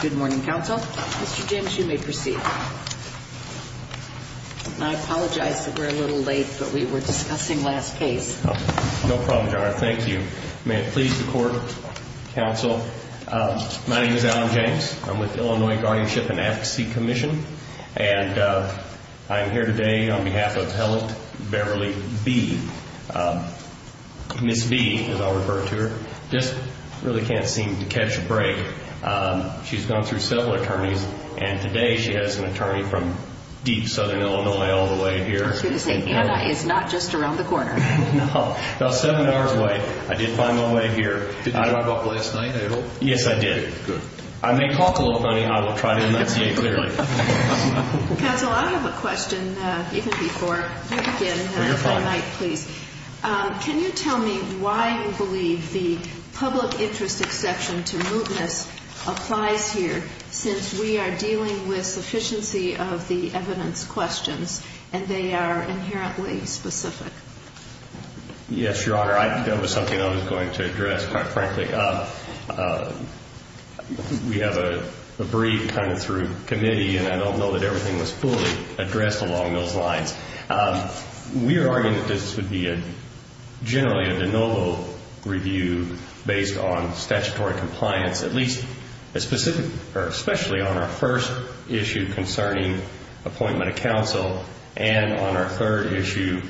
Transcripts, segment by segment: Good morning, council. Mr. James, you may proceed. I apologize that we're a little late, but we were discussing last case. No problem, John. Thank you. May it please the court, council. My name is Alan James. I'm with Illinois Guardianship and Advocacy Commission, and I'm here today on behalf of Helen Beverly B. Miss B, as I'll refer to her, just really can't seem to catch a break. She's gone through several attorneys, and today she has an attorney from deep Southern Illinois all the way here. I was going to say, Anna is not just around the corner. No, about seven hours away. I did find my way here. Did you talk about the last night at all? Yes, I did. Good. I may talk a little funny. I will try to enunciate clearly. Council, I have a question, even before you begin, if I might, please. Can you tell me why you believe the public interest exception to evidence questions, and they are inherently specific? Yes, Your Honor. I think that was something I was going to address, quite frankly. We have a brief kind of through committee, and I don't know that everything was fully addressed along those lines. We are arguing that this would be generally a de novo review based on statutory compliance, at least as specific, or especially on our first issue concerning appointment of counsel, and on our third issue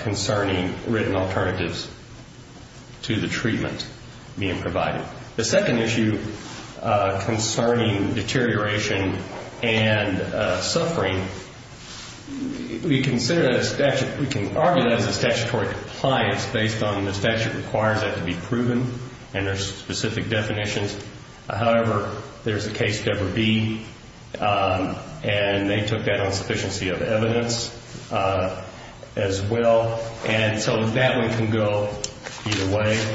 concerning written alternatives to the treatment being provided. The second issue concerning deterioration and suffering, we can argue that as a statutory compliance based on the statute requires that to be proven, and there's specific definitions. However, there's a case, Deborah Bee, and they took that on sufficiency of evidence as well, and so that one can go either way,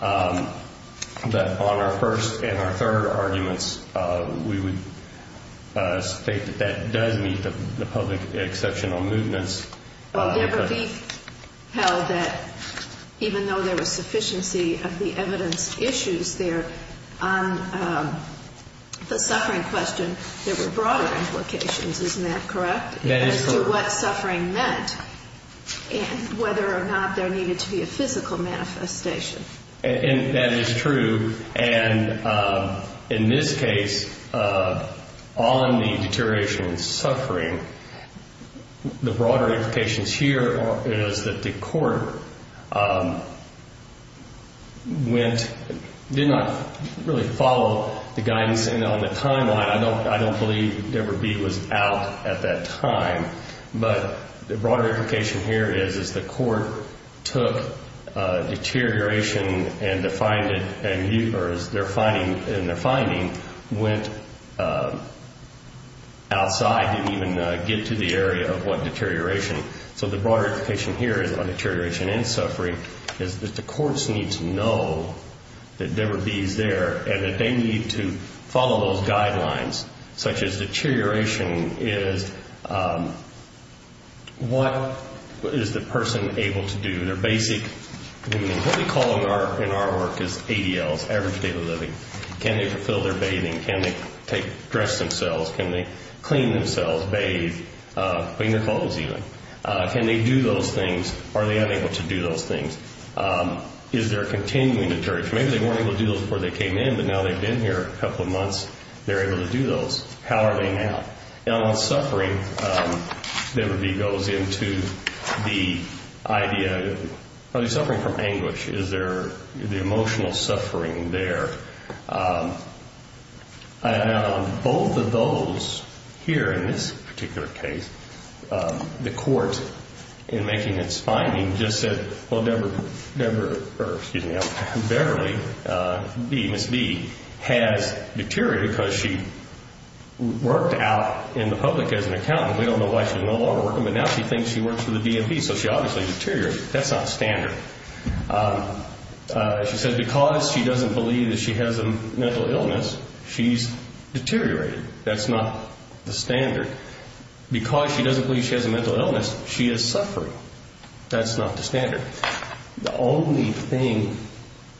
but on our first and our third arguments, we would state that that does meet the public exception on movements. Well, Deborah Bee held that even though there was sufficiency of the evidence issues there on the suffering question, there were broader implications. Isn't that correct? That is correct. As to what suffering meant, and whether or not there needed to be a physical manifestation. And that is true, and in this case, on the deterioration and suffering, the did not really follow the guidance on the timeline. I don't believe Deborah Bee was out at that time, but the broader implication here is, is the court took deterioration and defined it, and their finding went outside, didn't even get to the area of what deterioration. So the broader implication here is on deterioration and suffering, is that the Deborah Bee is there, and that they need to follow those guidelines, such as deterioration is, what is the person able to do? Their basic, what we call in our work is ADLs, average daily living. Can they fulfill their bathing? Can they take, dress themselves? Can they clean themselves, bathe, clean their clothes even? Can they do those things? Are they unable to do those things? Is there continuing deterioration? Maybe they weren't able to do those before they came in, but now they've been here a couple of months, they're able to do those. How are they now? Now on suffering, Deborah Bee goes into the idea, are they suffering from anguish? Is there the emotional suffering there? And on both of those here in this particular case, the court in making its finding just said, well, Deborah Bee has deteriorated because she worked out in the public as an accountant. We don't know why she's no longer working, but now she thinks she works for the DMV. So she obviously deteriorated. That's not standard. She said because she doesn't believe that she has a mental illness, she's deteriorated. That's not the standard. Because she doesn't believe she has a mental illness, she is suffering. That's not the standard. The only thing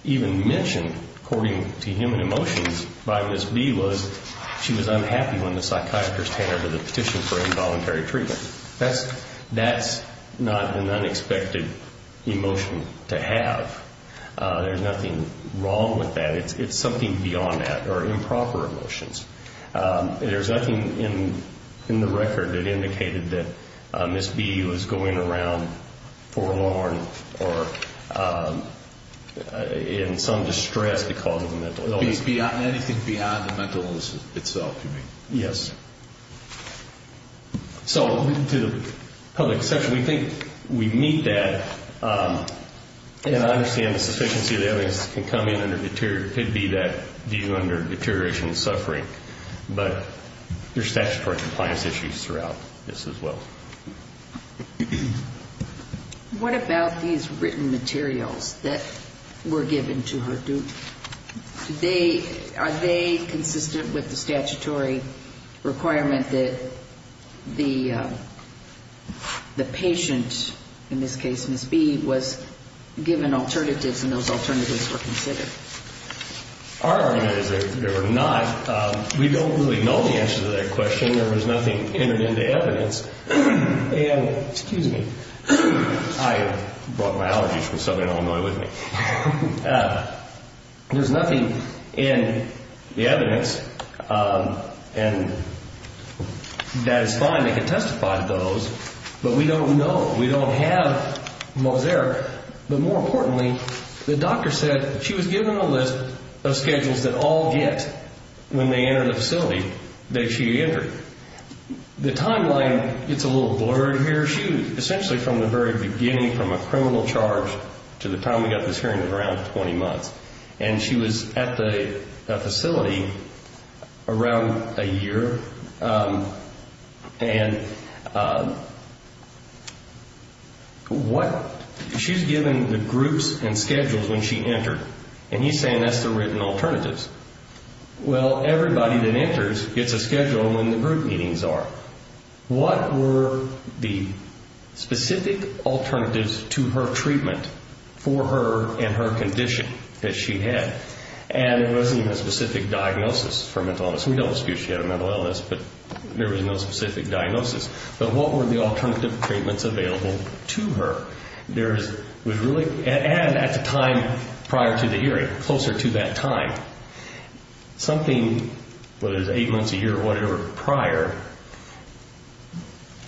even mentioned, according to human emotions, by Ms. Bee was she was unhappy when the psychiatrist handed her the petition for involuntary treatment. That's not an unexpected emotion to have. There's nothing wrong with that. It's something beyond that, or improper emotions. There's nothing in the record that indicated that Ms. Bee was going around forlorn or in some distress because of the mental illness. Anything beyond the mental illness itself, you mean? Yes. So to the public perception, we think we meet that, and I understand the deterioration and suffering, but there's statutory compliance issues throughout this as well. What about these written materials that were given to her? Are they consistent with the statutory requirement that the patient, in this case, Ms. Bee, was given alternatives and those alternatives were considered? Our argument is that they were not. We don't really know the answer to that question. There was nothing entered into evidence. And excuse me, I brought my allergies from Southern Illinois with me. There's nothing in the evidence, and that is fine. They can testify to those, but we don't know. We don't have Moseric. But more importantly, the doctor said she was given a list of schedules that all get when they enter the facility that she entered. The timeline, it's a little blurred here. She essentially, from the very beginning, from a criminal charge to the time we got this hearing, was around 20 months. And she was at the facility around a year. And she was given the groups and schedules when she entered, and he's saying that's the written alternatives. Well, everybody that enters gets a schedule when the group meetings are. What were the specific alternatives to her treatment for her and her condition that she had? And it wasn't even a specific diagnosis for mental illness. We don't know if she had a mental illness, but there was no specific diagnosis. But what were the alternative treatments available to her? There was really, and at the time prior to the hearing, closer to that time, something, whether it was eight months, a year, or whatever prior,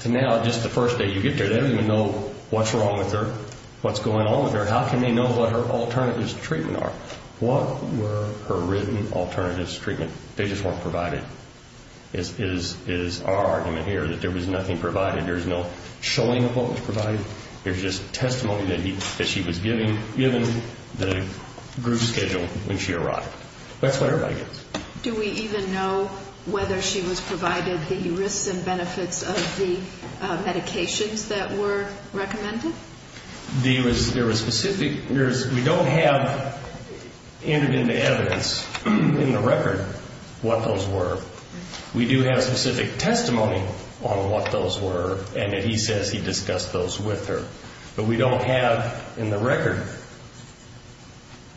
to now, just the first day you get there, they don't even know what's wrong with her, what's going on with her. How can they know what her alternatives to treatment are? What were her written alternatives to treatment? They just weren't provided, is our argument here, that there was nothing provided. There's no showing of what was provided. There's just testimony that she was given, given the group schedule when she arrived. That's what everybody gets. Do we even know whether she was provided the risks and benefits of the medications that were recommended? There was specific, we don't have entered into evidence in the record what those were. We do have specific testimony on what those were, and that he says he discussed those with her. But we don't have in the record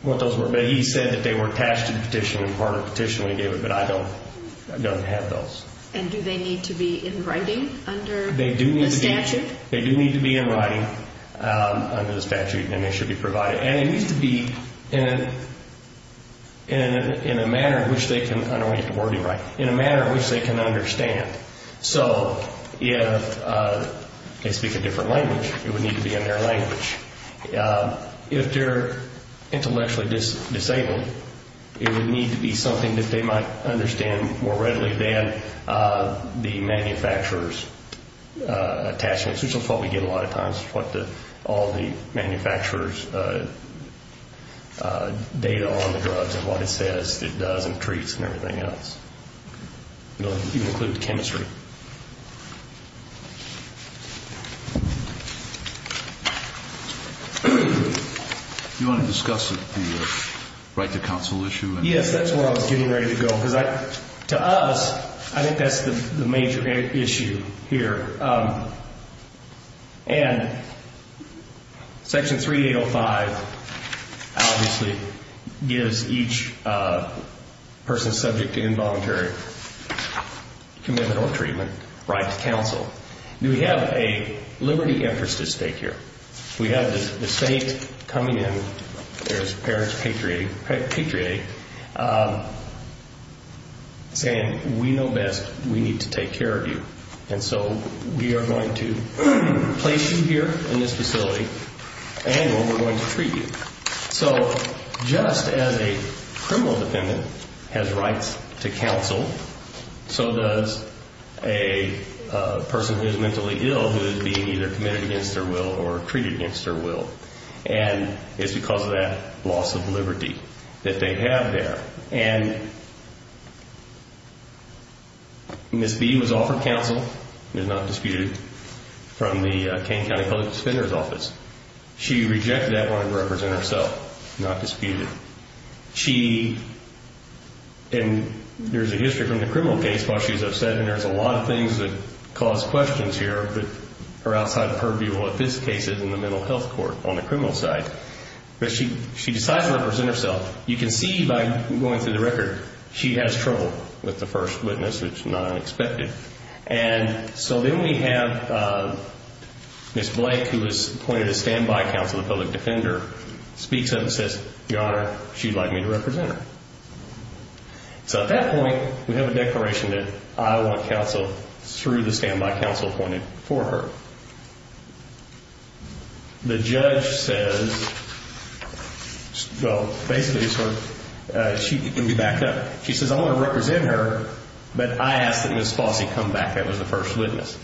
what those were. But he said that they were attached to the petition and part of the petition we gave her, but I don't have those. And do they need to be in writing under the statute? They do need to be in writing. Under the statute, and they should be provided. And it needs to be in a manner in which they can, I don't want to get the wording right, in a manner in which they can understand. So if they speak a different language, it would need to be in their language. If they're intellectually disabled, it would need to be something that they might understand more readily than the manufacturer's attachments, which is what we get a lot of times, what all the manufacturer's data on the drugs and what it says it does and treats and everything else. It'll even include the chemistry. Do you want to discuss the right to counsel issue? Yes, that's where I was getting ready to go, because to us, I think that's the major issue here. And Section 3805 obviously gives each person subject to involuntary commitment or treatment right to counsel. We have a liberty interest at stake here. We have the state coming in, there's parents, patriots, saying, we know best, we need to take care of you. And so we are going to place you here in this facility and we're going to treat you. So just as a criminal defendant has rights to counsel, so does a person who is mentally ill who is being either committed against their will or treated against their will. And it's because of that loss of liberty that they have there. And Ms. B was offered counsel, it is not disputed, from the Kane County Public Defender's Office. She rejected that one and represented herself, not disputed. She, and there's a history from the criminal case, while she was upset, and there's a lot of things that cause questions here that are outside of her view. Well, in this case, it's in the mental health court on the criminal side. But she decides to represent herself. You can see by going through the record, she has trouble with the first witness, which is not unexpected. And so then we have Ms. Blake, who was appointed as standby counsel to the public defender, speaks up and says, Your Honor, she'd like me to represent her. So at that point, we have a declaration that I want counsel through the standby counsel appointed for her. The judge says, well, basically, she can be backed up. She says, I want to represent her, but I ask that Ms. Fossey come back, that was the first witness.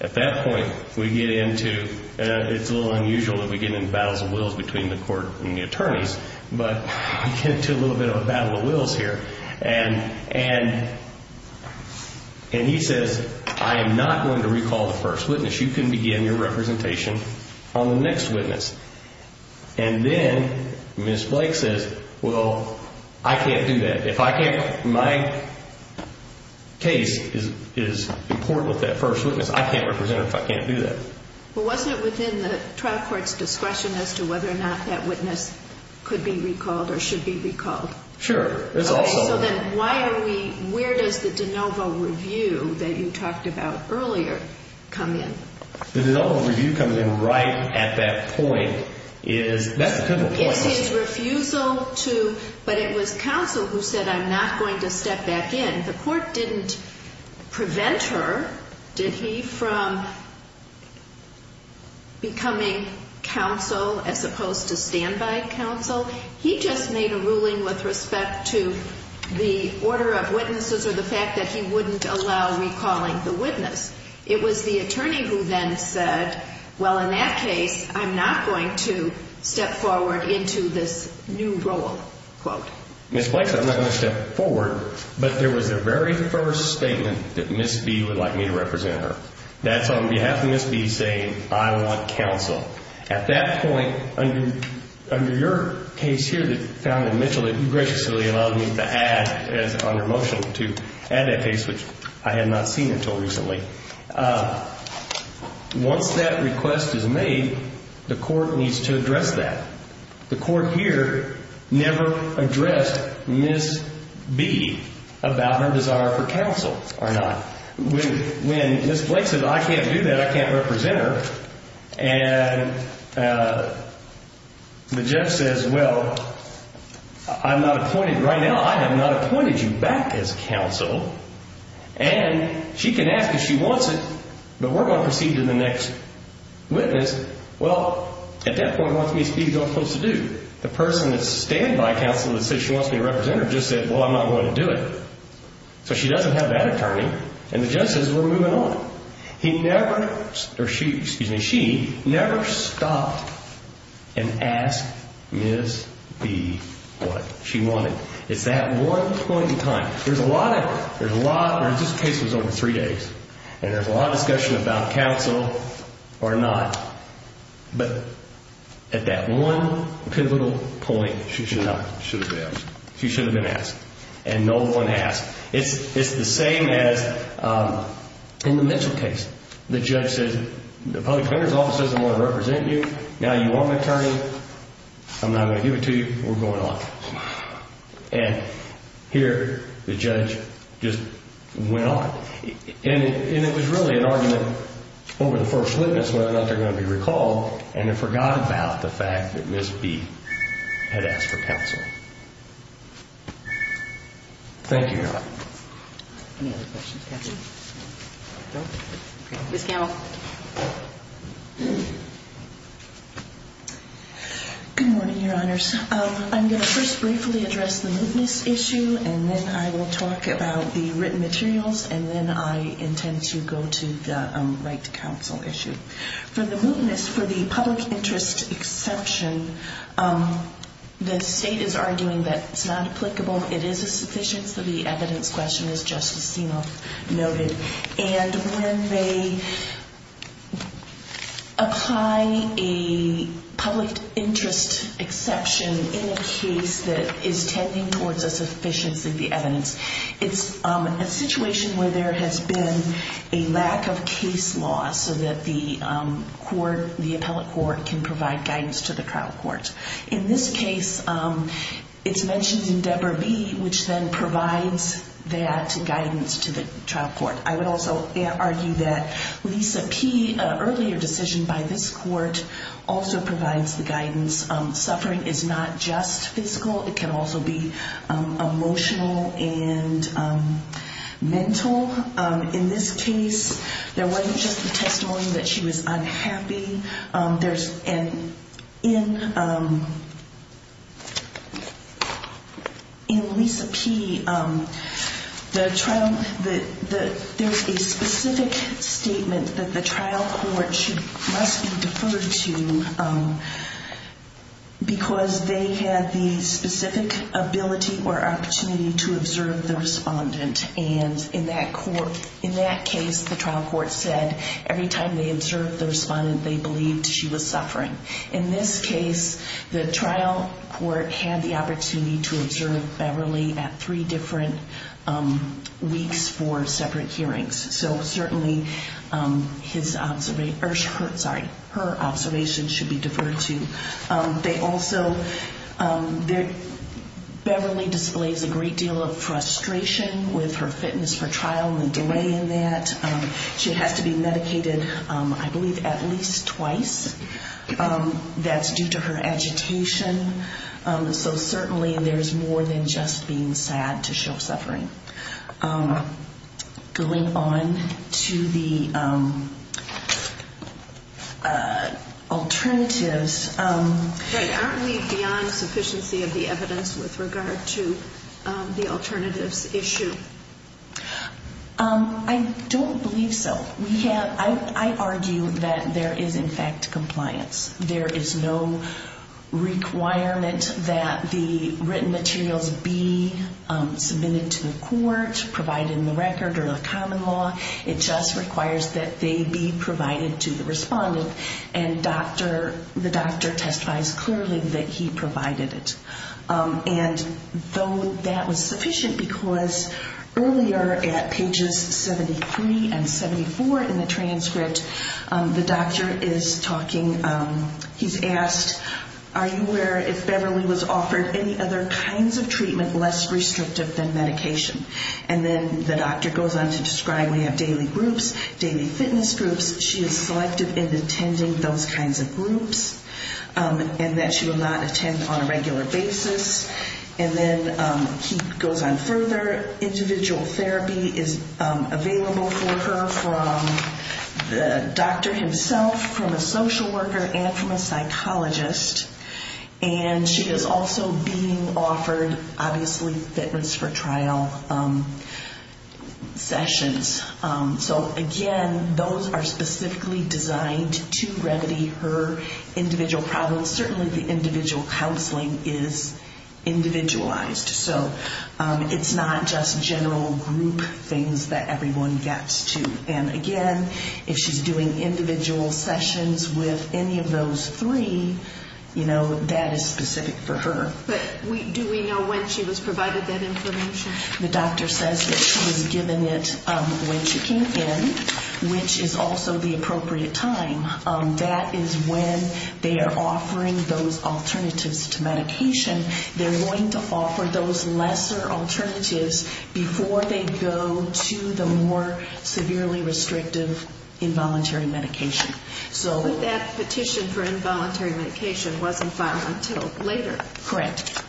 At that point, we get into, it's a little unusual that we get into battles of wills between the court and the attorneys, but we get into a little bit of a battle of wills here. And he says, I am not going to recall the first witness. You can begin your representation on the next witness. And then Ms. Blake says, well, I can't do that. If I can't, my case is important with that first witness. I can't represent her if I can't do that. Well, wasn't it within the trial court's discretion as to whether or not that witness could be recalled or should be recalled? Sure. It's also... So then why are we, where does the de novo review that you talked about earlier come in? The de novo review comes in right at that point is, that's the critical point. It's his refusal to, but it was counsel who said, I'm not going to step back in. The court didn't prevent her, did he, from becoming counsel as opposed to standby counsel. He just made a ruling with respect to the order of witnesses or the fact that he wouldn't allow recalling the witness. It was the attorney who then said, well, in that case, I'm not going to step forward into this new role. Ms. Blake said, I'm not going to step forward, but there was a very first statement that Ms. B would like me to represent her. That's on behalf of Ms. B saying, I want counsel. At that point, under your case here that found that Mitchell had graciously allowed me to add as under motion to add that case, which I had not seen until recently. Once that request is made, the court needs to address that. The court here never addressed Ms. B about her desire for counsel or not. When Ms. Blake said, I can't do that, I can't represent her, and the judge says, well, I'm not appointed right now. I have not appointed you back as counsel, and she can ask if she wants it, but we're going to proceed to the next witness. Well, at that point, what's Ms. B supposed to do? The person that's standby counsel that says she wants me to represent her just said, well, I'm not going to do it. So she doesn't have that attorney, and the judge says we're moving on. He never, or she, excuse me, she never stopped and asked Ms. B what she wanted. It's that one point in time. There's a lot of, there's a lot, this case was over three days, and there's a lot of discussion about counsel or not, but at that one pivotal point, she should have been asked, and no one asked. It's the same as in the Mitchell case. The judge says, the public defender's office doesn't want to represent you, now you want my attorney, I'm not going to give it to you, we're going on. And here, the judge just went on, and it was really an argument over the first witness, whether or not they're going to be recalled, and they forgot about the fact that Ms. B had asked for counsel. Thank you, Your Honor. Any other questions, counsel? Ms. Campbell. Good morning, Your Honors. I'm going to first briefly address the mootness issue, and then I will talk about the written materials, and then I intend to go to the right to counsel issue. For the mootness, for the public interest exception, the state is arguing that it's not applicable, it is a sufficient for the evidence question, as Justice Stenoff noted. And when they apply a public interest exception in a case that is tending towards a sufficiency of the evidence, it's a situation where there has been a lack of case law so that the court, the appellate court, can provide guidance to the trial court. In this case, it's mentioned in Debra B., which then provides that guidance to the trial court. I would also argue that Lisa P., an earlier decision by this court, also provides the guidance. Suffering is not just physical, it can also be emotional and mental. In this case, there wasn't just the testimony that she was unhappy. In Lisa P., there's a specific statement that the trial court must be deferred to because they had the specific ability or opportunity to observe the respondent. And in that case, the trial court said every time they observed the respondent, they believed she was suffering. In this case, the trial court had the opportunity to observe Beverly at three different weeks for separate hearings. So certainly, her observation should be deferred to. They also, Beverly displays a great deal of frustration with her fitness for trial and the delay in that. She has to be medicated, I believe, at least twice. That's due to her agitation. So certainly, there's more than just being sad to show suffering. Going on to the alternatives. Aren't we beyond sufficiency of the evidence with regard to the alternatives issue? I don't believe so. I argue that there is, in fact, compliance. There is no requirement that the written materials be submitted to the court, provided in the record or the common law. It just requires that they be provided to the respondent. And the doctor testifies clearly that he provided it. And though that was sufficient, because earlier at pages 73 and 74 in the transcript, the doctor is talking. He's asked, are you aware if Beverly was offered any other kinds of treatment less restrictive than medication? And then the doctor goes on to describe, we have daily groups, daily fitness groups. She is selective in attending those kinds of groups. And that she will not attend on a regular basis. And then he goes on further. Individual therapy is available for her from the doctor himself, from a social worker and from a psychologist. And she is also being offered, obviously, fitness for trial sessions. So again, those are specifically designed to remedy her individual problems. Certainly the individual counseling is individualized. So it's not just general group things that everyone gets to. And again, if she's doing individual sessions with any of those three, you know, that is specific for her. But do we know when she was provided that information? The doctor says that she was given it when she came in, which is also the appropriate time. That is when they are offering those alternatives to medication. They're going to offer those lesser alternatives before they go to the more severely restrictive involuntary medication. But that petition for involuntary medication wasn't filed until later. Correct.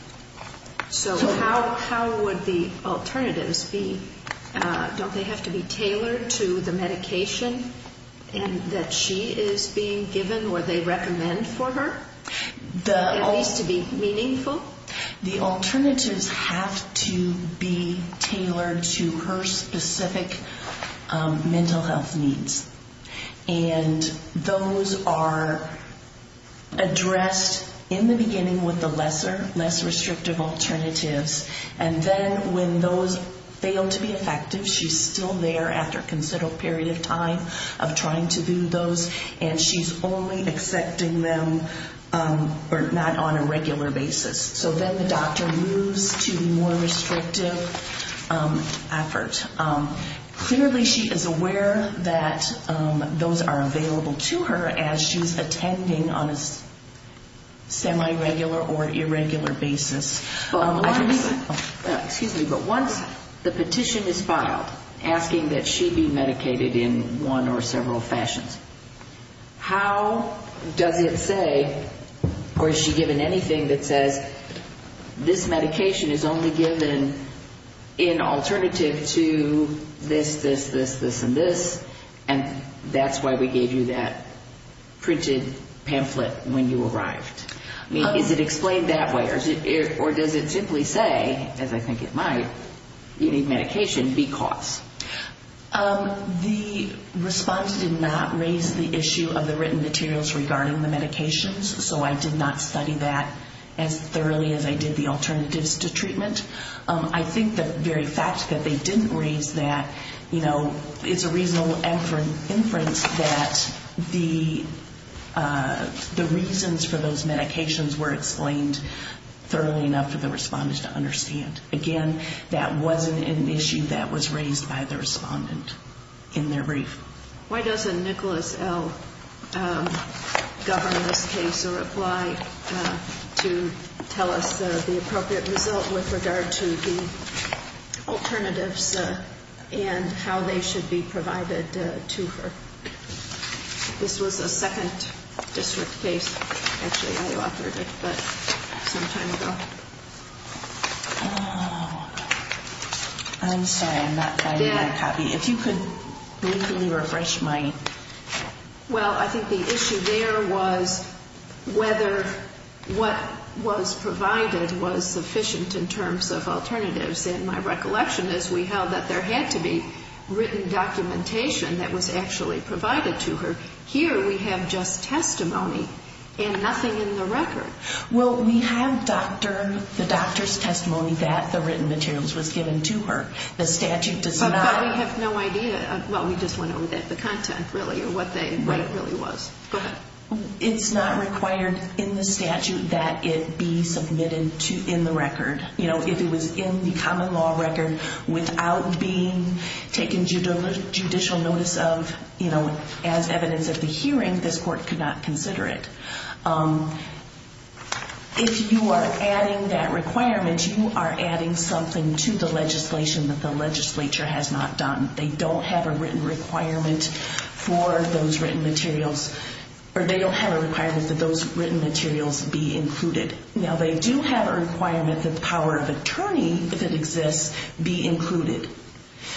So how would the alternatives be? Don't they have to be tailored to the medication that she is being given or they recommend for her? At least to be meaningful? The alternatives have to be tailored to her specific mental health needs. And those are addressed in the beginning with the lesser, less restrictive alternatives. And then when those fail to be effective, she's still there after a considerable period of time of trying to do those. And she's only accepting them, or not on a regular basis. So then the doctor moves to the more restrictive effort. Clearly she is aware that those are available to her as she's attending on a semi-regular or irregular basis. But once the petition is filed asking that she be medicated in one or several fashions, how does it say, or is she given anything that says, this medication is only given in alternative to this, this, this, this, and this, and that's why we gave you that printed pamphlet when you arrived? Is it explained that way or does it simply say, as I think it might, you need medication because? The response did not raise the issue of the written materials regarding the medications. So I did not study that as thoroughly as I did the alternatives to treatment. I think the very fact that they didn't raise that, you know, it's a reasonable inference that the reasons for those medications were explained thoroughly enough for the respondents to understand. Again, that wasn't an issue that was raised by the respondent in their brief. Why doesn't Nicholas L. govern this case or apply to tell us the appropriate result with regard to the alternatives and how they should be provided to her? This was a second district case, actually I authored it, but some time ago. I'm sorry, I'm not finding a copy. If you could briefly refresh my. Well, I think the issue there was whether what was provided was sufficient in terms of alternatives. And my recollection is we held that there had to be written documentation that was actually provided to her. Here we have just testimony and nothing in the record. Well, we have the doctor's testimony that the written materials was given to her. The statute does not. But we have no idea. Well, we just went over the content really or what it really was. It's not required in the statute that it be submitted in the record. You know, if it was in the common law record without being taken judicial notice of, you know, as evidence of the hearing, this court could not consider it. If you are adding that requirement, you are adding something to the legislation that the legislature has not done. They don't have a written requirement for those written materials. Or they don't have a requirement that those written materials be included. Now, they do have a requirement that the power of attorney, if it exists, be included.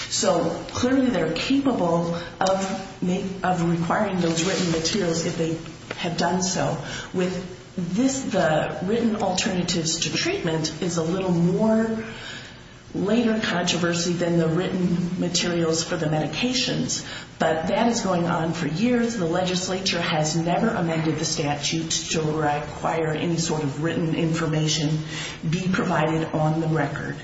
So clearly they are capable of requiring those written materials if they have done so. With this, the written alternatives to treatment is a little more later controversy than the written materials for the medications. But that is going on for years. The legislature has never amended the statute to require any sort of written information be provided on the record.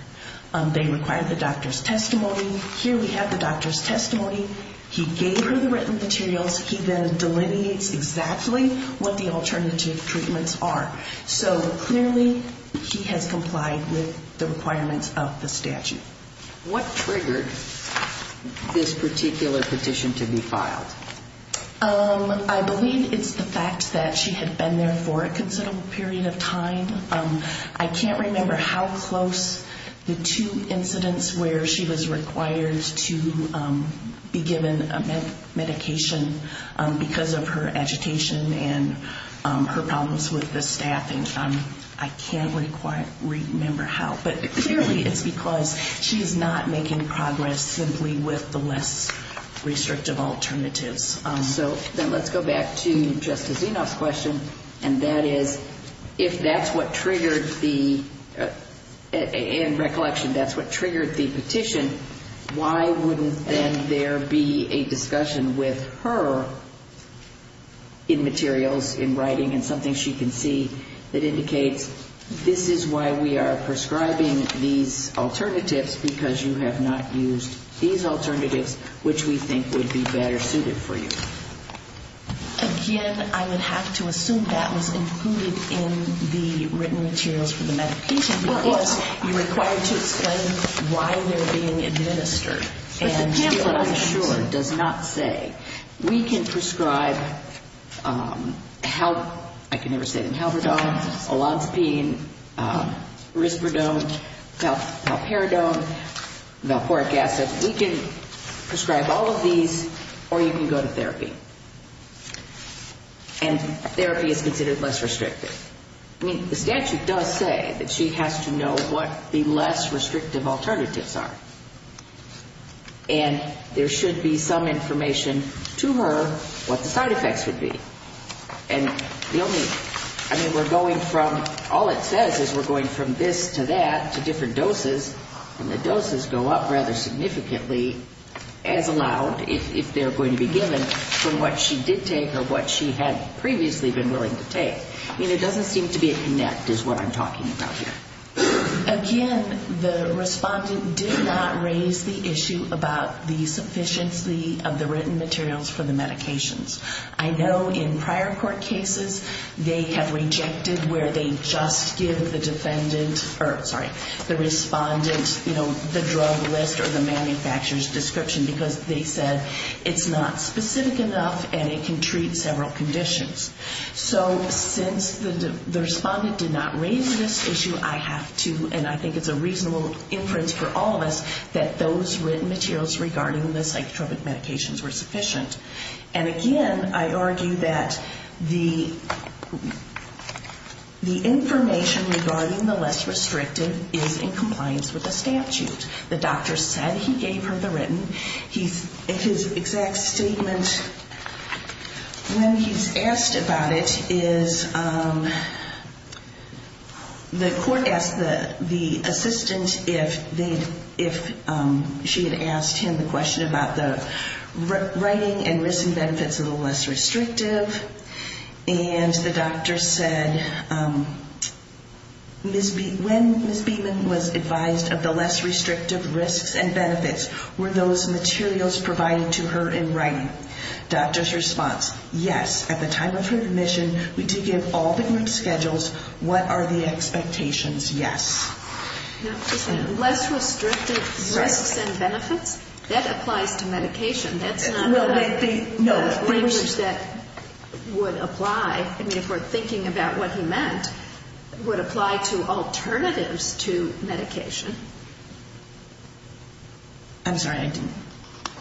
They require the doctor's testimony. Here we have the doctor's testimony. He gave her the written materials. He then delineates exactly what the alternative treatments are. So clearly he has complied with the requirements of the statute. What triggered this particular petition to be filed? I believe it's the fact that she had been there for a considerable period of time. I can't remember how close the two incidents where she was required to be given a medication because of her agitation and her problems with the staff. I can't remember how. But clearly it's because she's not making progress simply with the less restrictive alternatives. So then let's go back to Justice Enoff's question. And that is, if that's what triggered the, in recollection, that's what triggered the petition, why wouldn't then there be a discussion with her in materials, in writing, and something she can see that indicates this is why we are prescribing these alternatives because you have not used these alternatives, which we think would be better suited for you? Again, I would have to assume that was included in the written materials for the medication because you're required to explain why they're being administered. But the pamphlet, I'm sure, does not say we can prescribe, I can never say it in halverdone, olanzapine, risperidone, palperidone, valproic acid. We can prescribe all of these or you can go to therapy. And therapy is considered less restrictive. I mean, the statute does say that she has to know what the less restrictive alternatives are. And there should be some information to her what the side effects would be. And the only, I mean, we're going from, all it says is we're going from this to that to different doses. And the doses go up rather significantly as allowed if they're going to be given from what she did take or what she had previously been willing to take. I mean, it doesn't seem to be a connect is what I'm talking about here. Again, the respondent did not raise the issue about the sufficiency of the written materials for the medications. I know in prior court cases they have rejected where they just give the defendant, or sorry, the respondent, you know, the drug list or the manufacturer's description because they said it's not specific enough and it can treat several conditions. So since the respondent did not raise this issue, I have to, and I think it's a reasonable inference for all of us, that those written materials regarding the psychotropic medications were sufficient. And again, I argue that the information regarding the less restrictive is in compliance with the statute. The doctor said he gave her the written. His exact statement when he's asked about it is the court asked the assistant if she had asked him the question about the writing and risks and benefits of the less restrictive. And the doctor said, when Ms. Beeman was advised of the less restrictive risks and benefits, were those materials provided to her in writing? Doctor's response, yes. At the time of her admission, we did give all the group schedules. What are the expectations? Yes. Less restrictive risks and benefits, that applies to medication. That's not the language that would apply, I mean, if we're thinking about what he meant, would apply to alternatives to medication. I'm sorry, I didn't.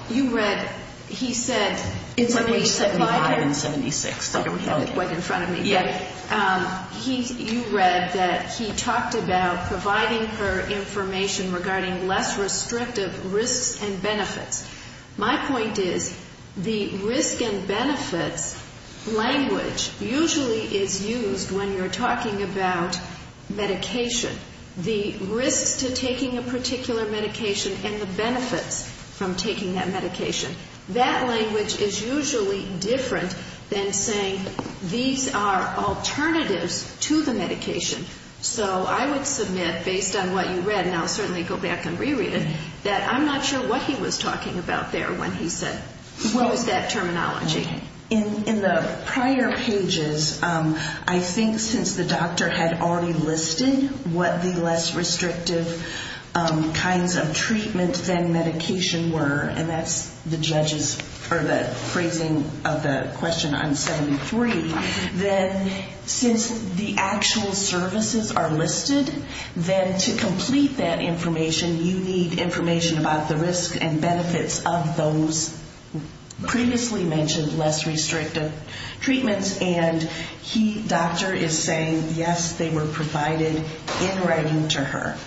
You read, he said, in front of me, you read that he talked about providing her information regarding less restrictive risks and benefits. My point is, the risk and benefits language usually is used when you're talking about medication. The risks to taking a particular medication and the benefits from taking that medication. That language is usually different than saying these are alternatives to the medication. So I would submit, based on what you read, and I'll certainly go back and re-read it, that I'm not sure what he was talking about there when he said, what was that terminology? In the prior pages, I think since the doctor had already listed what the less restrictive kinds of treatment than medication were, and that's the judges, or the phrasing of the question on 73, that since the actual services are listed, then to complete that information, you need information about the risks and benefits of those previously mentioned services. So he mentioned less restrictive treatments, and he, doctor, is saying, yes, they were provided in writing to her.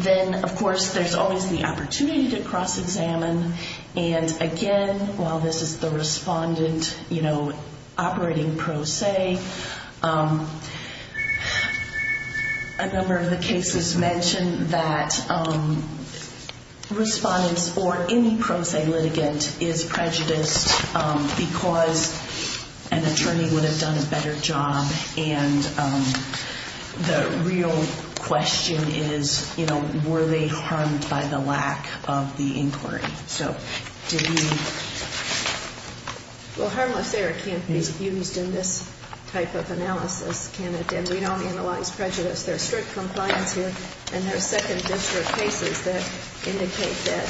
Then, of course, there's always the opportunity to cross-examine, and again, while this is the respondent operating pro se, a number of the cases mention that respondents or any pro se litigant is prejudiced because an attorney would have done a better job, and the real question is, were they harmed by the lack of the inquiry? So did you... Well, harmless error can't be used in this type of analysis, can it? And we don't analyze prejudice. There's strict compliance here, and there's second district cases that indicate that.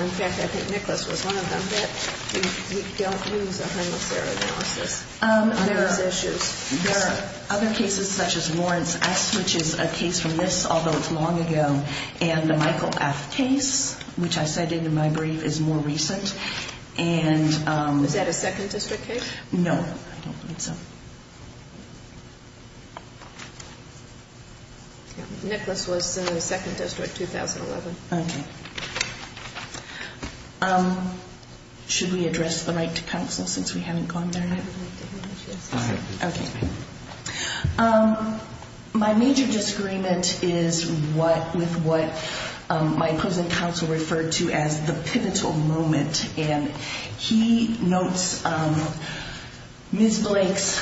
In fact, I think Nicholas was one of them, that we don't use a harmless error analysis on those issues. There are other cases such as Lawrence S., which is a case from this, although it's long ago, and the Michael F. case, which I cited in my brief, is more recent. Is that a second district case? No. Nicholas was in the second district, 2011. Okay. Should we address the right to counsel since we haven't gone there yet? Okay. My major disagreement is with what my opposing counsel referred to as the pivotal moment, and he notes Ms. Blake's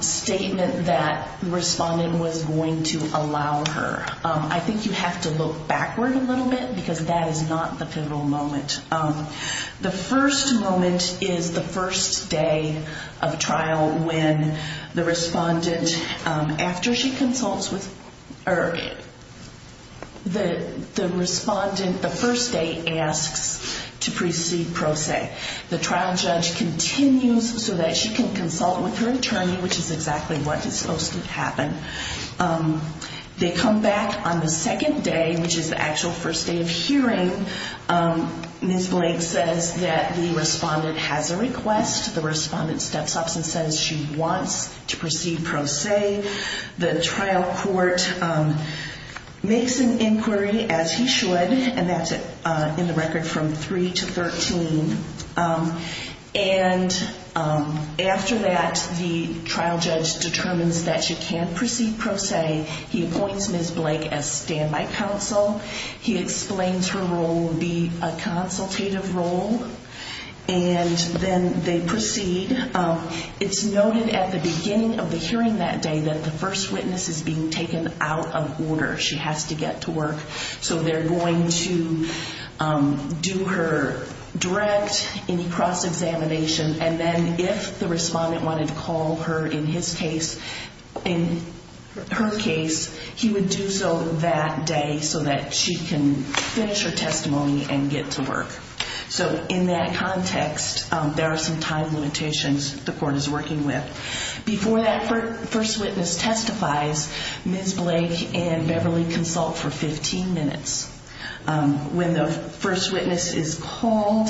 statement that the respondent was going to allow her. I think you have to look backward a little bit, because that is not the pivotal moment. The first moment is the first day of trial when the respondent, after she consults with her, the respondent, the first day, asks to proceed pro se. The trial judge continues so that she can consult with her attorney, which is exactly what is supposed to happen. They come back on the second day, which is the actual first day of hearing. Ms. Blake says that the respondent has a request. The respondent steps up and says she wants to proceed pro se. The trial court makes an inquiry, as he should, and that's in the record from 3 to 13. And after that, the trial judge determines that she can proceed pro se. He appoints Ms. Blake as standby counsel. He explains her role would be a consultative role, and then they proceed. It's noted at the beginning of the hearing that day that the first witness is being taken out of order. She has to get to work, so they're going to do her direct, any cross-examination, and then if the respondent wanted to call her in his case, in her case, he would do so that day so that she can finish her testimony and get to work. So in that context, there are some time limitations the court is working with. Before that first witness testifies, Ms. Blake and Beverly consult for 15 minutes. When the first witness is called,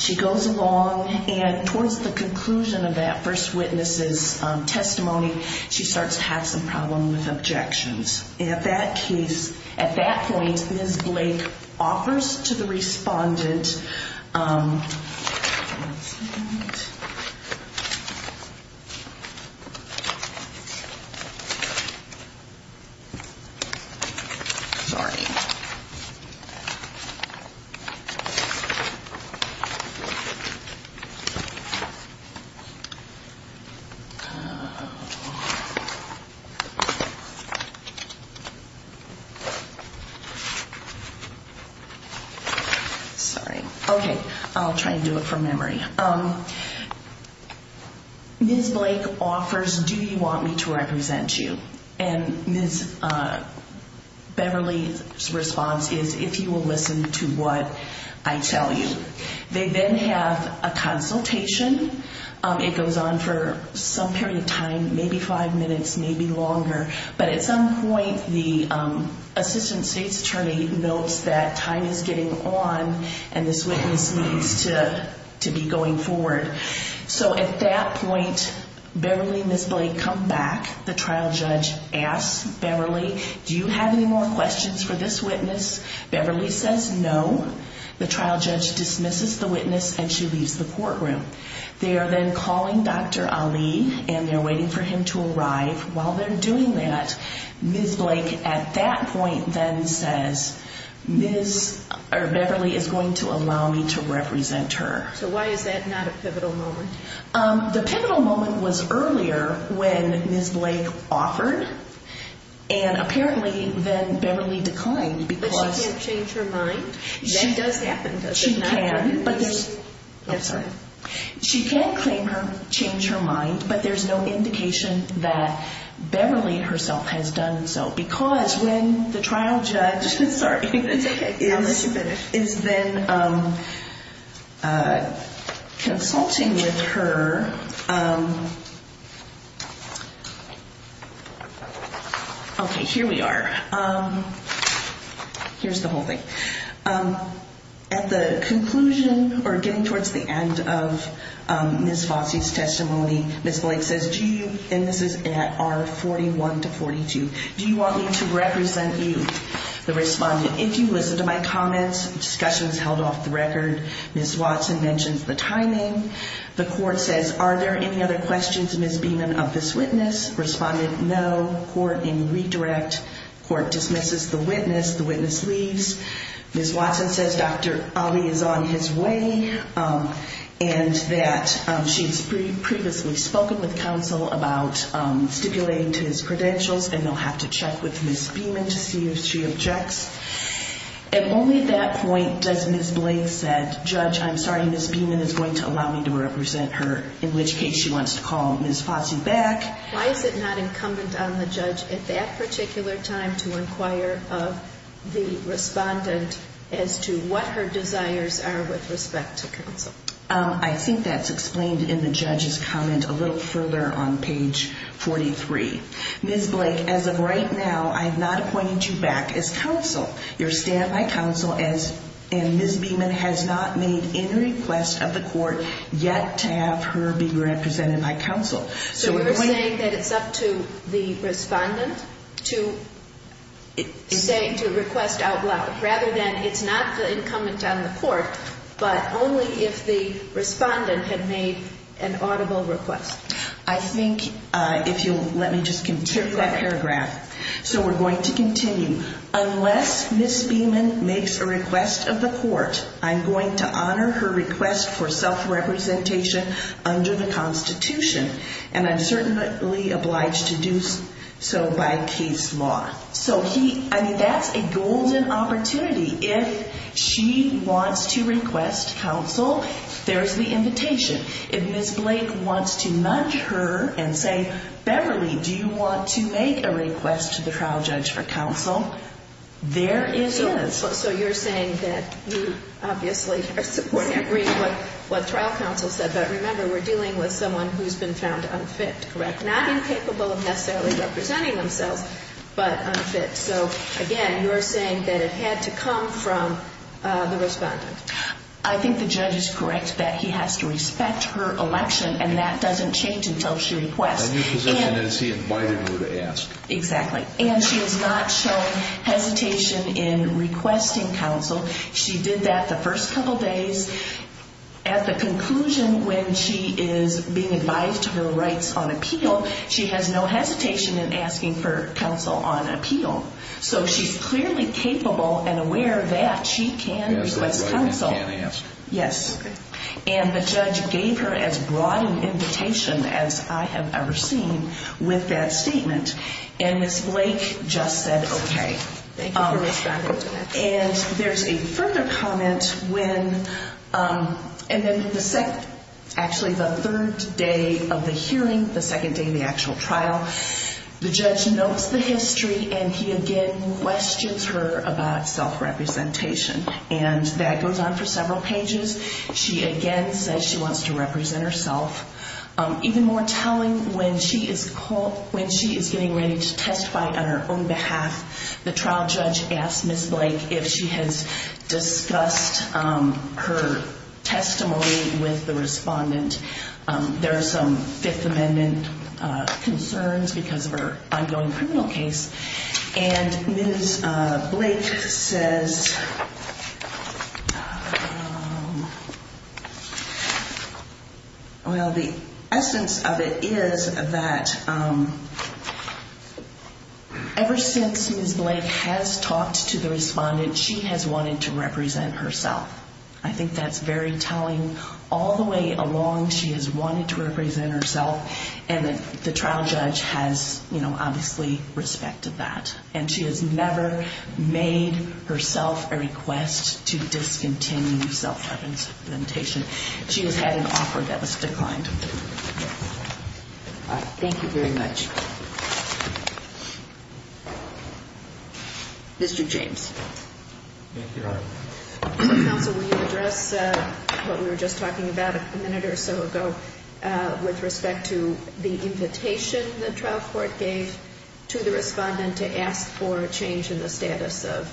she goes along, and towards the conclusion of that first witness's testimony, she starts to have some problem with objections. At that case, at that point, Ms. Blake offers to the respondent, JULIE GALLASTER-LAZARO Sorry! Sorry! Okay, I'll try to do it from memory. Ms. Blake offers, do you want me to represent you? And Ms. Beverly's response is, if you will listen to what I tell you. They then have a consultation. It goes on for some period of time, maybe five minutes, maybe longer. But at some point, the Assistant State's Attorney notes that time is getting on and this witness needs to be going forward. So at that point, Beverly and Ms. Blake come back. The trial judge asks Beverly, do you have any more questions for this witness? Beverly says no. The trial judge dismisses the witness and she leaves the courtroom. They are then calling Dr. Ali and they're waiting for him to arrive. While they're doing that, Ms. Blake at that point then says, Ms. Beverly is going to allow me to represent her. So why is that not a pivotal moment? The pivotal moment was earlier when Ms. Blake offered. And apparently then Beverly declined because... But she can't change her mind? That does happen, doesn't it? She can, but there's... I'm sorry. She can claim to change her mind, but there's no indication that Beverly herself has done so. Because when the trial judge is then consulting with her... Okay, here we are. Here's the whole thing. At the conclusion or getting towards the end of Ms. Fossey's testimony, Ms. Blake says, and this is at R41 to 42, Do you want me to represent you? The respondent, if you listen to my comments... Discussion is held off the record. Ms. Watson mentions the timing. The court says, are there any other questions, Ms. Beamon, of this witness? Respondent, no. Court in redirect. Court dismisses the witness. The witness leaves. Ms. Watson says Dr. Ali is on his way and that she's previously spoken with counsel about stipulating to his credentials and they'll have to check with Ms. Beamon to see if she objects. At only that point does Ms. Blake say, Judge, I'm sorry, Ms. Beamon is going to allow me to represent her in which case she wants to call Ms. Fossey back. Why is it not incumbent on the judge at that particular time to inquire of the respondent as to what her desires are with respect to counsel? I think that's explained in the judge's comment a little further on page 43. Ms. Blake, as of right now, I have not appointed you back as counsel. You're stamped by counsel and Ms. Beamon has not made any request of the court yet to have her be represented by counsel. So you're saying that it's up to the respondent to request out loud rather than it's not the incumbent on the court but only if the respondent had made an audible request. I think, if you'll let me just continue that paragraph. So we're going to continue. Unless Ms. Beamon makes a request of the court, I'm going to honor her request for self-representation under the Constitution and I'm certainly obliged to do so by case law. So that's a golden opportunity. If she wants to request counsel, there's the invitation. If Ms. Blake wants to nudge her and say, Beverly, do you want to make a request to the trial judge for counsel, there is a request. So you're saying that you obviously are supporting and agreeing with what trial counsel said, but remember we're dealing with someone who's been found unfit, correct? Not incapable of necessarily representing themselves but unfit. So, again, you're saying that it had to come from the respondent. I think the judge is correct that he has to respect her election and that doesn't change until she requests. A new position is he invited her to ask. Exactly. And she has not shown hesitation in requesting counsel. She did that the first couple days. At the conclusion when she is being advised to her rights on appeal, she has no hesitation in asking for counsel on appeal. So she's clearly capable and aware that she can request counsel. Yes. And the judge gave her as broad an invitation as I have ever seen with that statement. And Ms. Blake just said okay. Thank you for responding to that. And there's a further comment when, and then the second, actually the third day of the hearing, the second day of the actual trial, the judge notes the history and he again questions her about self-representation. And that goes on for several pages. She again says she wants to represent herself. Even more telling, when she is getting ready to testify on her own behalf, the trial judge asked Ms. Blake if she has discussed her testimony with the respondent. There are some Fifth Amendment concerns because of her ongoing criminal case. And Ms. Blake says, well, the essence of it is that ever since Ms. Blake has talked to the respondent, she has wanted to represent herself. I think that's very telling. All the way along she has wanted to represent herself. And the trial judge has, you know, obviously respected that. And she has never made herself a request to discontinue self-representation. She has had an offer that was declined. Thank you very much. Mr. James. Thank you, Your Honor. Counsel, will you address what we were just talking about a minute or so ago with respect to the invitation the trial court gave to the respondent to ask for a change in the status of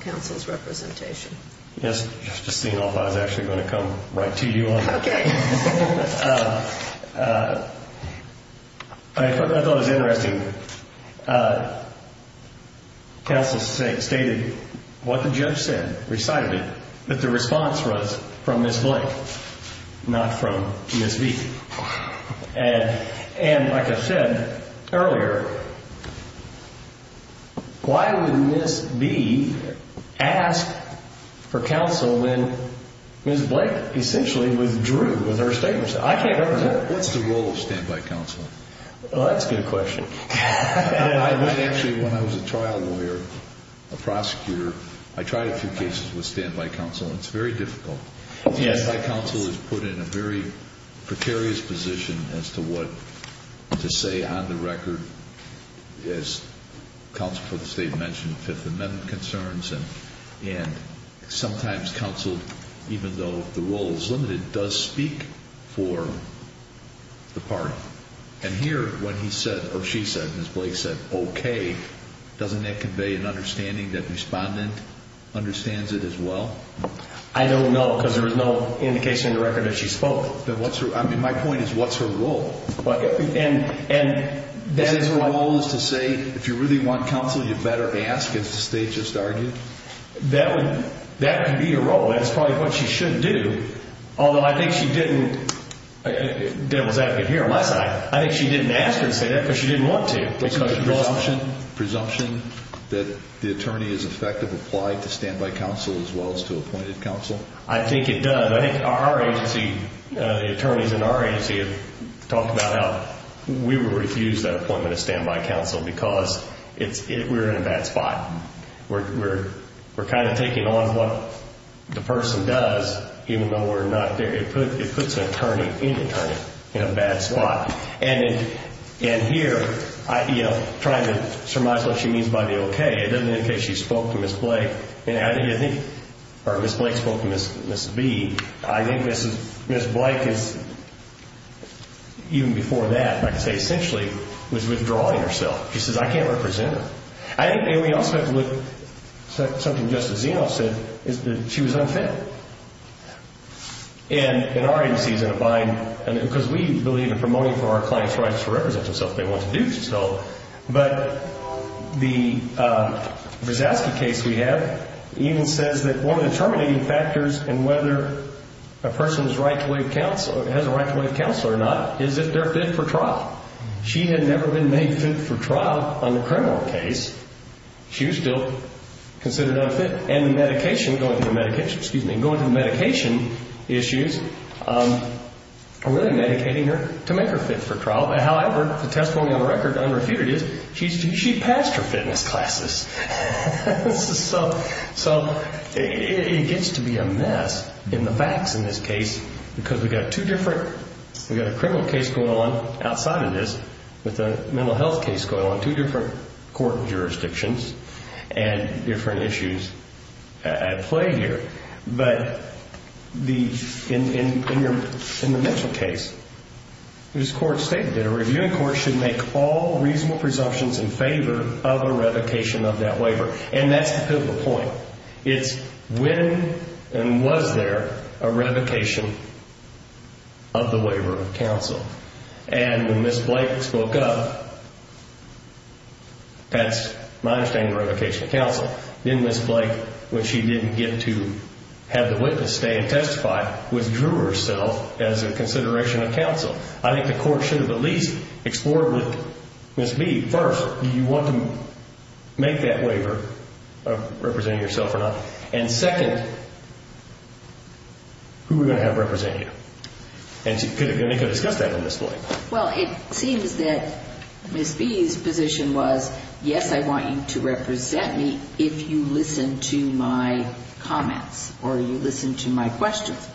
counsel's representation? Yes. Just seeing off, I was actually going to come right to you on that. Okay. I thought it was interesting. Counsel stated what the judge said, recited it, that the response was from Ms. Blake, not from GSB. And like I said earlier, why would Ms. B ask for counsel when Ms. Blake essentially withdrew with her statement? I can't understand. What's the role of standby counsel? Well, that's a good question. Actually, when I was a trial lawyer, a prosecutor, I tried a few cases with standby counsel, and it's very difficult. Standby counsel is put in a very precarious position as to what to say on the record. As counsel for the State mentioned, Fifth Amendment concerns, and sometimes counsel, even though the role is limited, does speak for the party. And here, when he said, or she said, Ms. Blake said, okay, doesn't that convey an understanding that the respondent understands it as well? I don't know, because there was no indication on the record that she spoke. My point is, what's her role? And that is my point. Is her role to say, if you really want counsel, you better ask, as the State just argued? That could be her role. That's probably what she should do. Although, I think she didn't, devil's advocate here on my side, I think she didn't ask her to say that because she didn't want to. Presumption that the attorney is effective applied to standby counsel as well as to appointed counsel? I think it does. I think our agency, the attorneys in our agency have talked about how we would refuse that appointment of standby counsel because we're in a bad spot. We're kind of taking on what the person does, even though we're not there. It puts an attorney, any attorney, in a bad spot. And here, trying to surmise what she means by the okay, it doesn't indicate she spoke to Ms. Blake. And I think, or Ms. Blake spoke to Ms. B. I think Ms. Blake is, even before that, like I say, essentially was withdrawing herself. She says, I can't represent her. And we also have to look, something Justice Zeno said, is that she was unfit. And our agency is in a bind, because we believe in promoting for our clients' rights to represent themselves if they want to do so. But the Verzaski case we have even says that one of the terminating factors in whether a person has a right to waive counsel or not is if they're fit for trial. She had never been made fit for trial on a criminal case. She was still considered unfit. And the medication, going to the medication, excuse me, going to the medication issues are really medicating her to make her fit for trial. However, the testimony on the record, unrefuted, is she passed her fitness classes. So it gets to be a mess in the facts in this case, because we've got two different, we've got a criminal case going on outside of this with a mental health case going on, two different court jurisdictions and different issues at play here. But in the Mitchell case, this court stated that a reviewing court should make all reasonable presumptions in favor of a revocation of that waiver. And that's the pivotal point. It's when and was there a revocation of the waiver of counsel. And when Ms. Blake spoke up, that's my understanding of revocation of counsel. Then Ms. Blake, when she didn't get to have the witness stand and testify, withdrew herself as a consideration of counsel. I think the court should have at least explored with Ms. B, first, do you want to make that waiver of representing yourself or not? And second, who are we going to have represent you? And you could have discussed that with Ms. Blake. Well, it seems that Ms. B's position was, yes, I want you to represent me if you listen to my comments or you listen to my questions.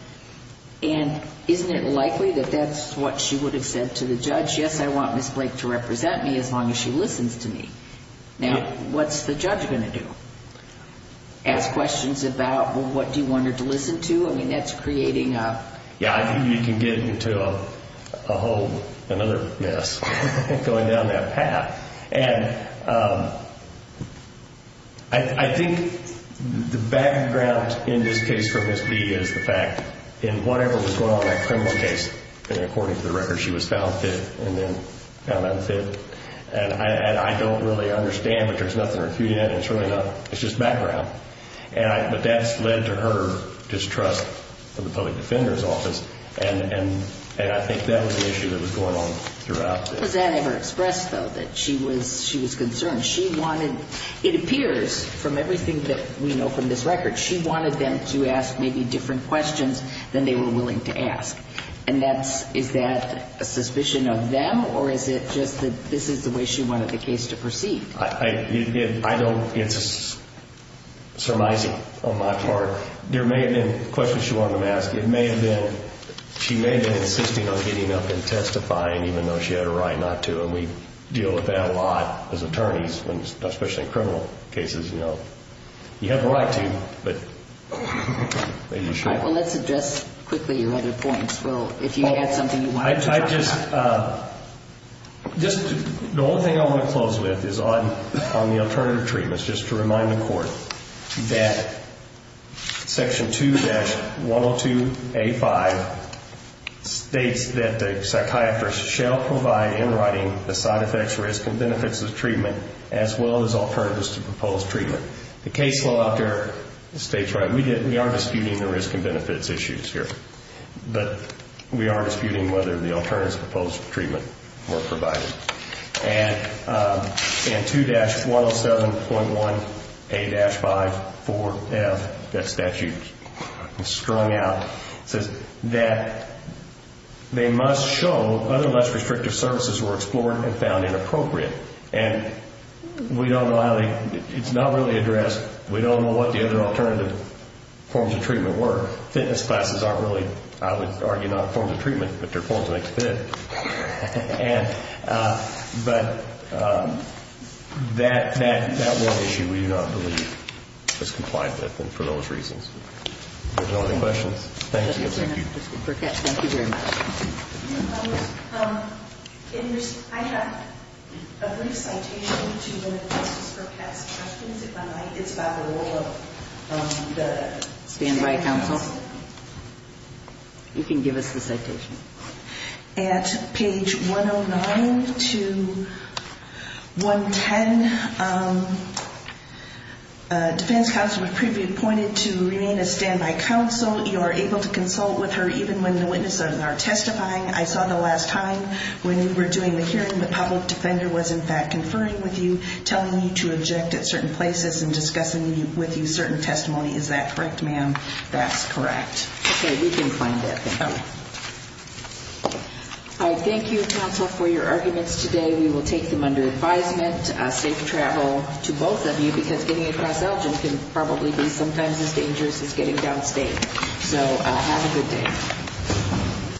And isn't it likely that that's what she would have said to the judge? Yes, I want Ms. Blake to represent me as long as she listens to me. Now, what's the judge going to do? Ask questions about, well, what do you want her to listen to? Yeah, you can get into a whole other mess going down that path. And I think the background in this case for Ms. B is the fact in whatever was going on in that criminal case, according to the record, she was found fit and then found unfit. And I don't really understand, but there's nothing to refute that. It's just background. But that's led to her distrust of the public defender's office. And I think that was the issue that was going on throughout. Does that ever express, though, that she was concerned? She wanted, it appears from everything that we know from this record, she wanted them to ask maybe different questions than they were willing to ask. And is that a suspicion of them, or is it just that this is the way she wanted the case to proceed? I don't, it's surmising on my part. There may have been questions she wanted them to ask. It may have been, she may have been insisting on getting up and testifying, even though she had a right not to. And we deal with that a lot as attorneys, especially in criminal cases. You have the right to, but maybe you shouldn't. All right, well, let's address quickly your other points. Well, if you had something you want to add. I just, the only thing I want to close with is on the alternative treatments, just to remind the Court that Section 2-102A5 states that the psychiatrist shall provide in writing the side effects, risk, and benefits of treatment as well as alternatives to proposed treatment. The case law out there states right. We are disputing the risk and benefits issues here. But we are disputing whether the alternatives to proposed treatment were provided. And 2-107.1A-54F, that statute is strung out, says that they must show other less restrictive services were explored and found inappropriate. And we don't know how they, it's not really addressed. We don't know what the other alternative forms of treatment were. Fitness classes aren't really, I would argue, not a form of treatment, but they're a form to make you fit. But that one issue we do not believe is compliant with and for those reasons. If there's no other questions, thank you. Thank you very much. I have a brief citation to one of Justice Burkett's questions. It's about the role of the standby counsel. You can give us the citation. At page 109 to 110, defense counsel would be appointed to remain a standby counsel. You are able to consult with her even when the witnesses are testifying. I saw the last time when we were doing the hearing, the public defender was in fact conferring with you, telling you to object at certain places and discussing with you certain testimony. Is that correct, ma'am? That's correct. Okay. We can find that. Thank you. All right. Thank you, counsel, for your arguments today. We will take them under advisement. Safe travel to both of you because getting across Elgin can probably be sometimes as dangerous as getting downstate. So have a good day.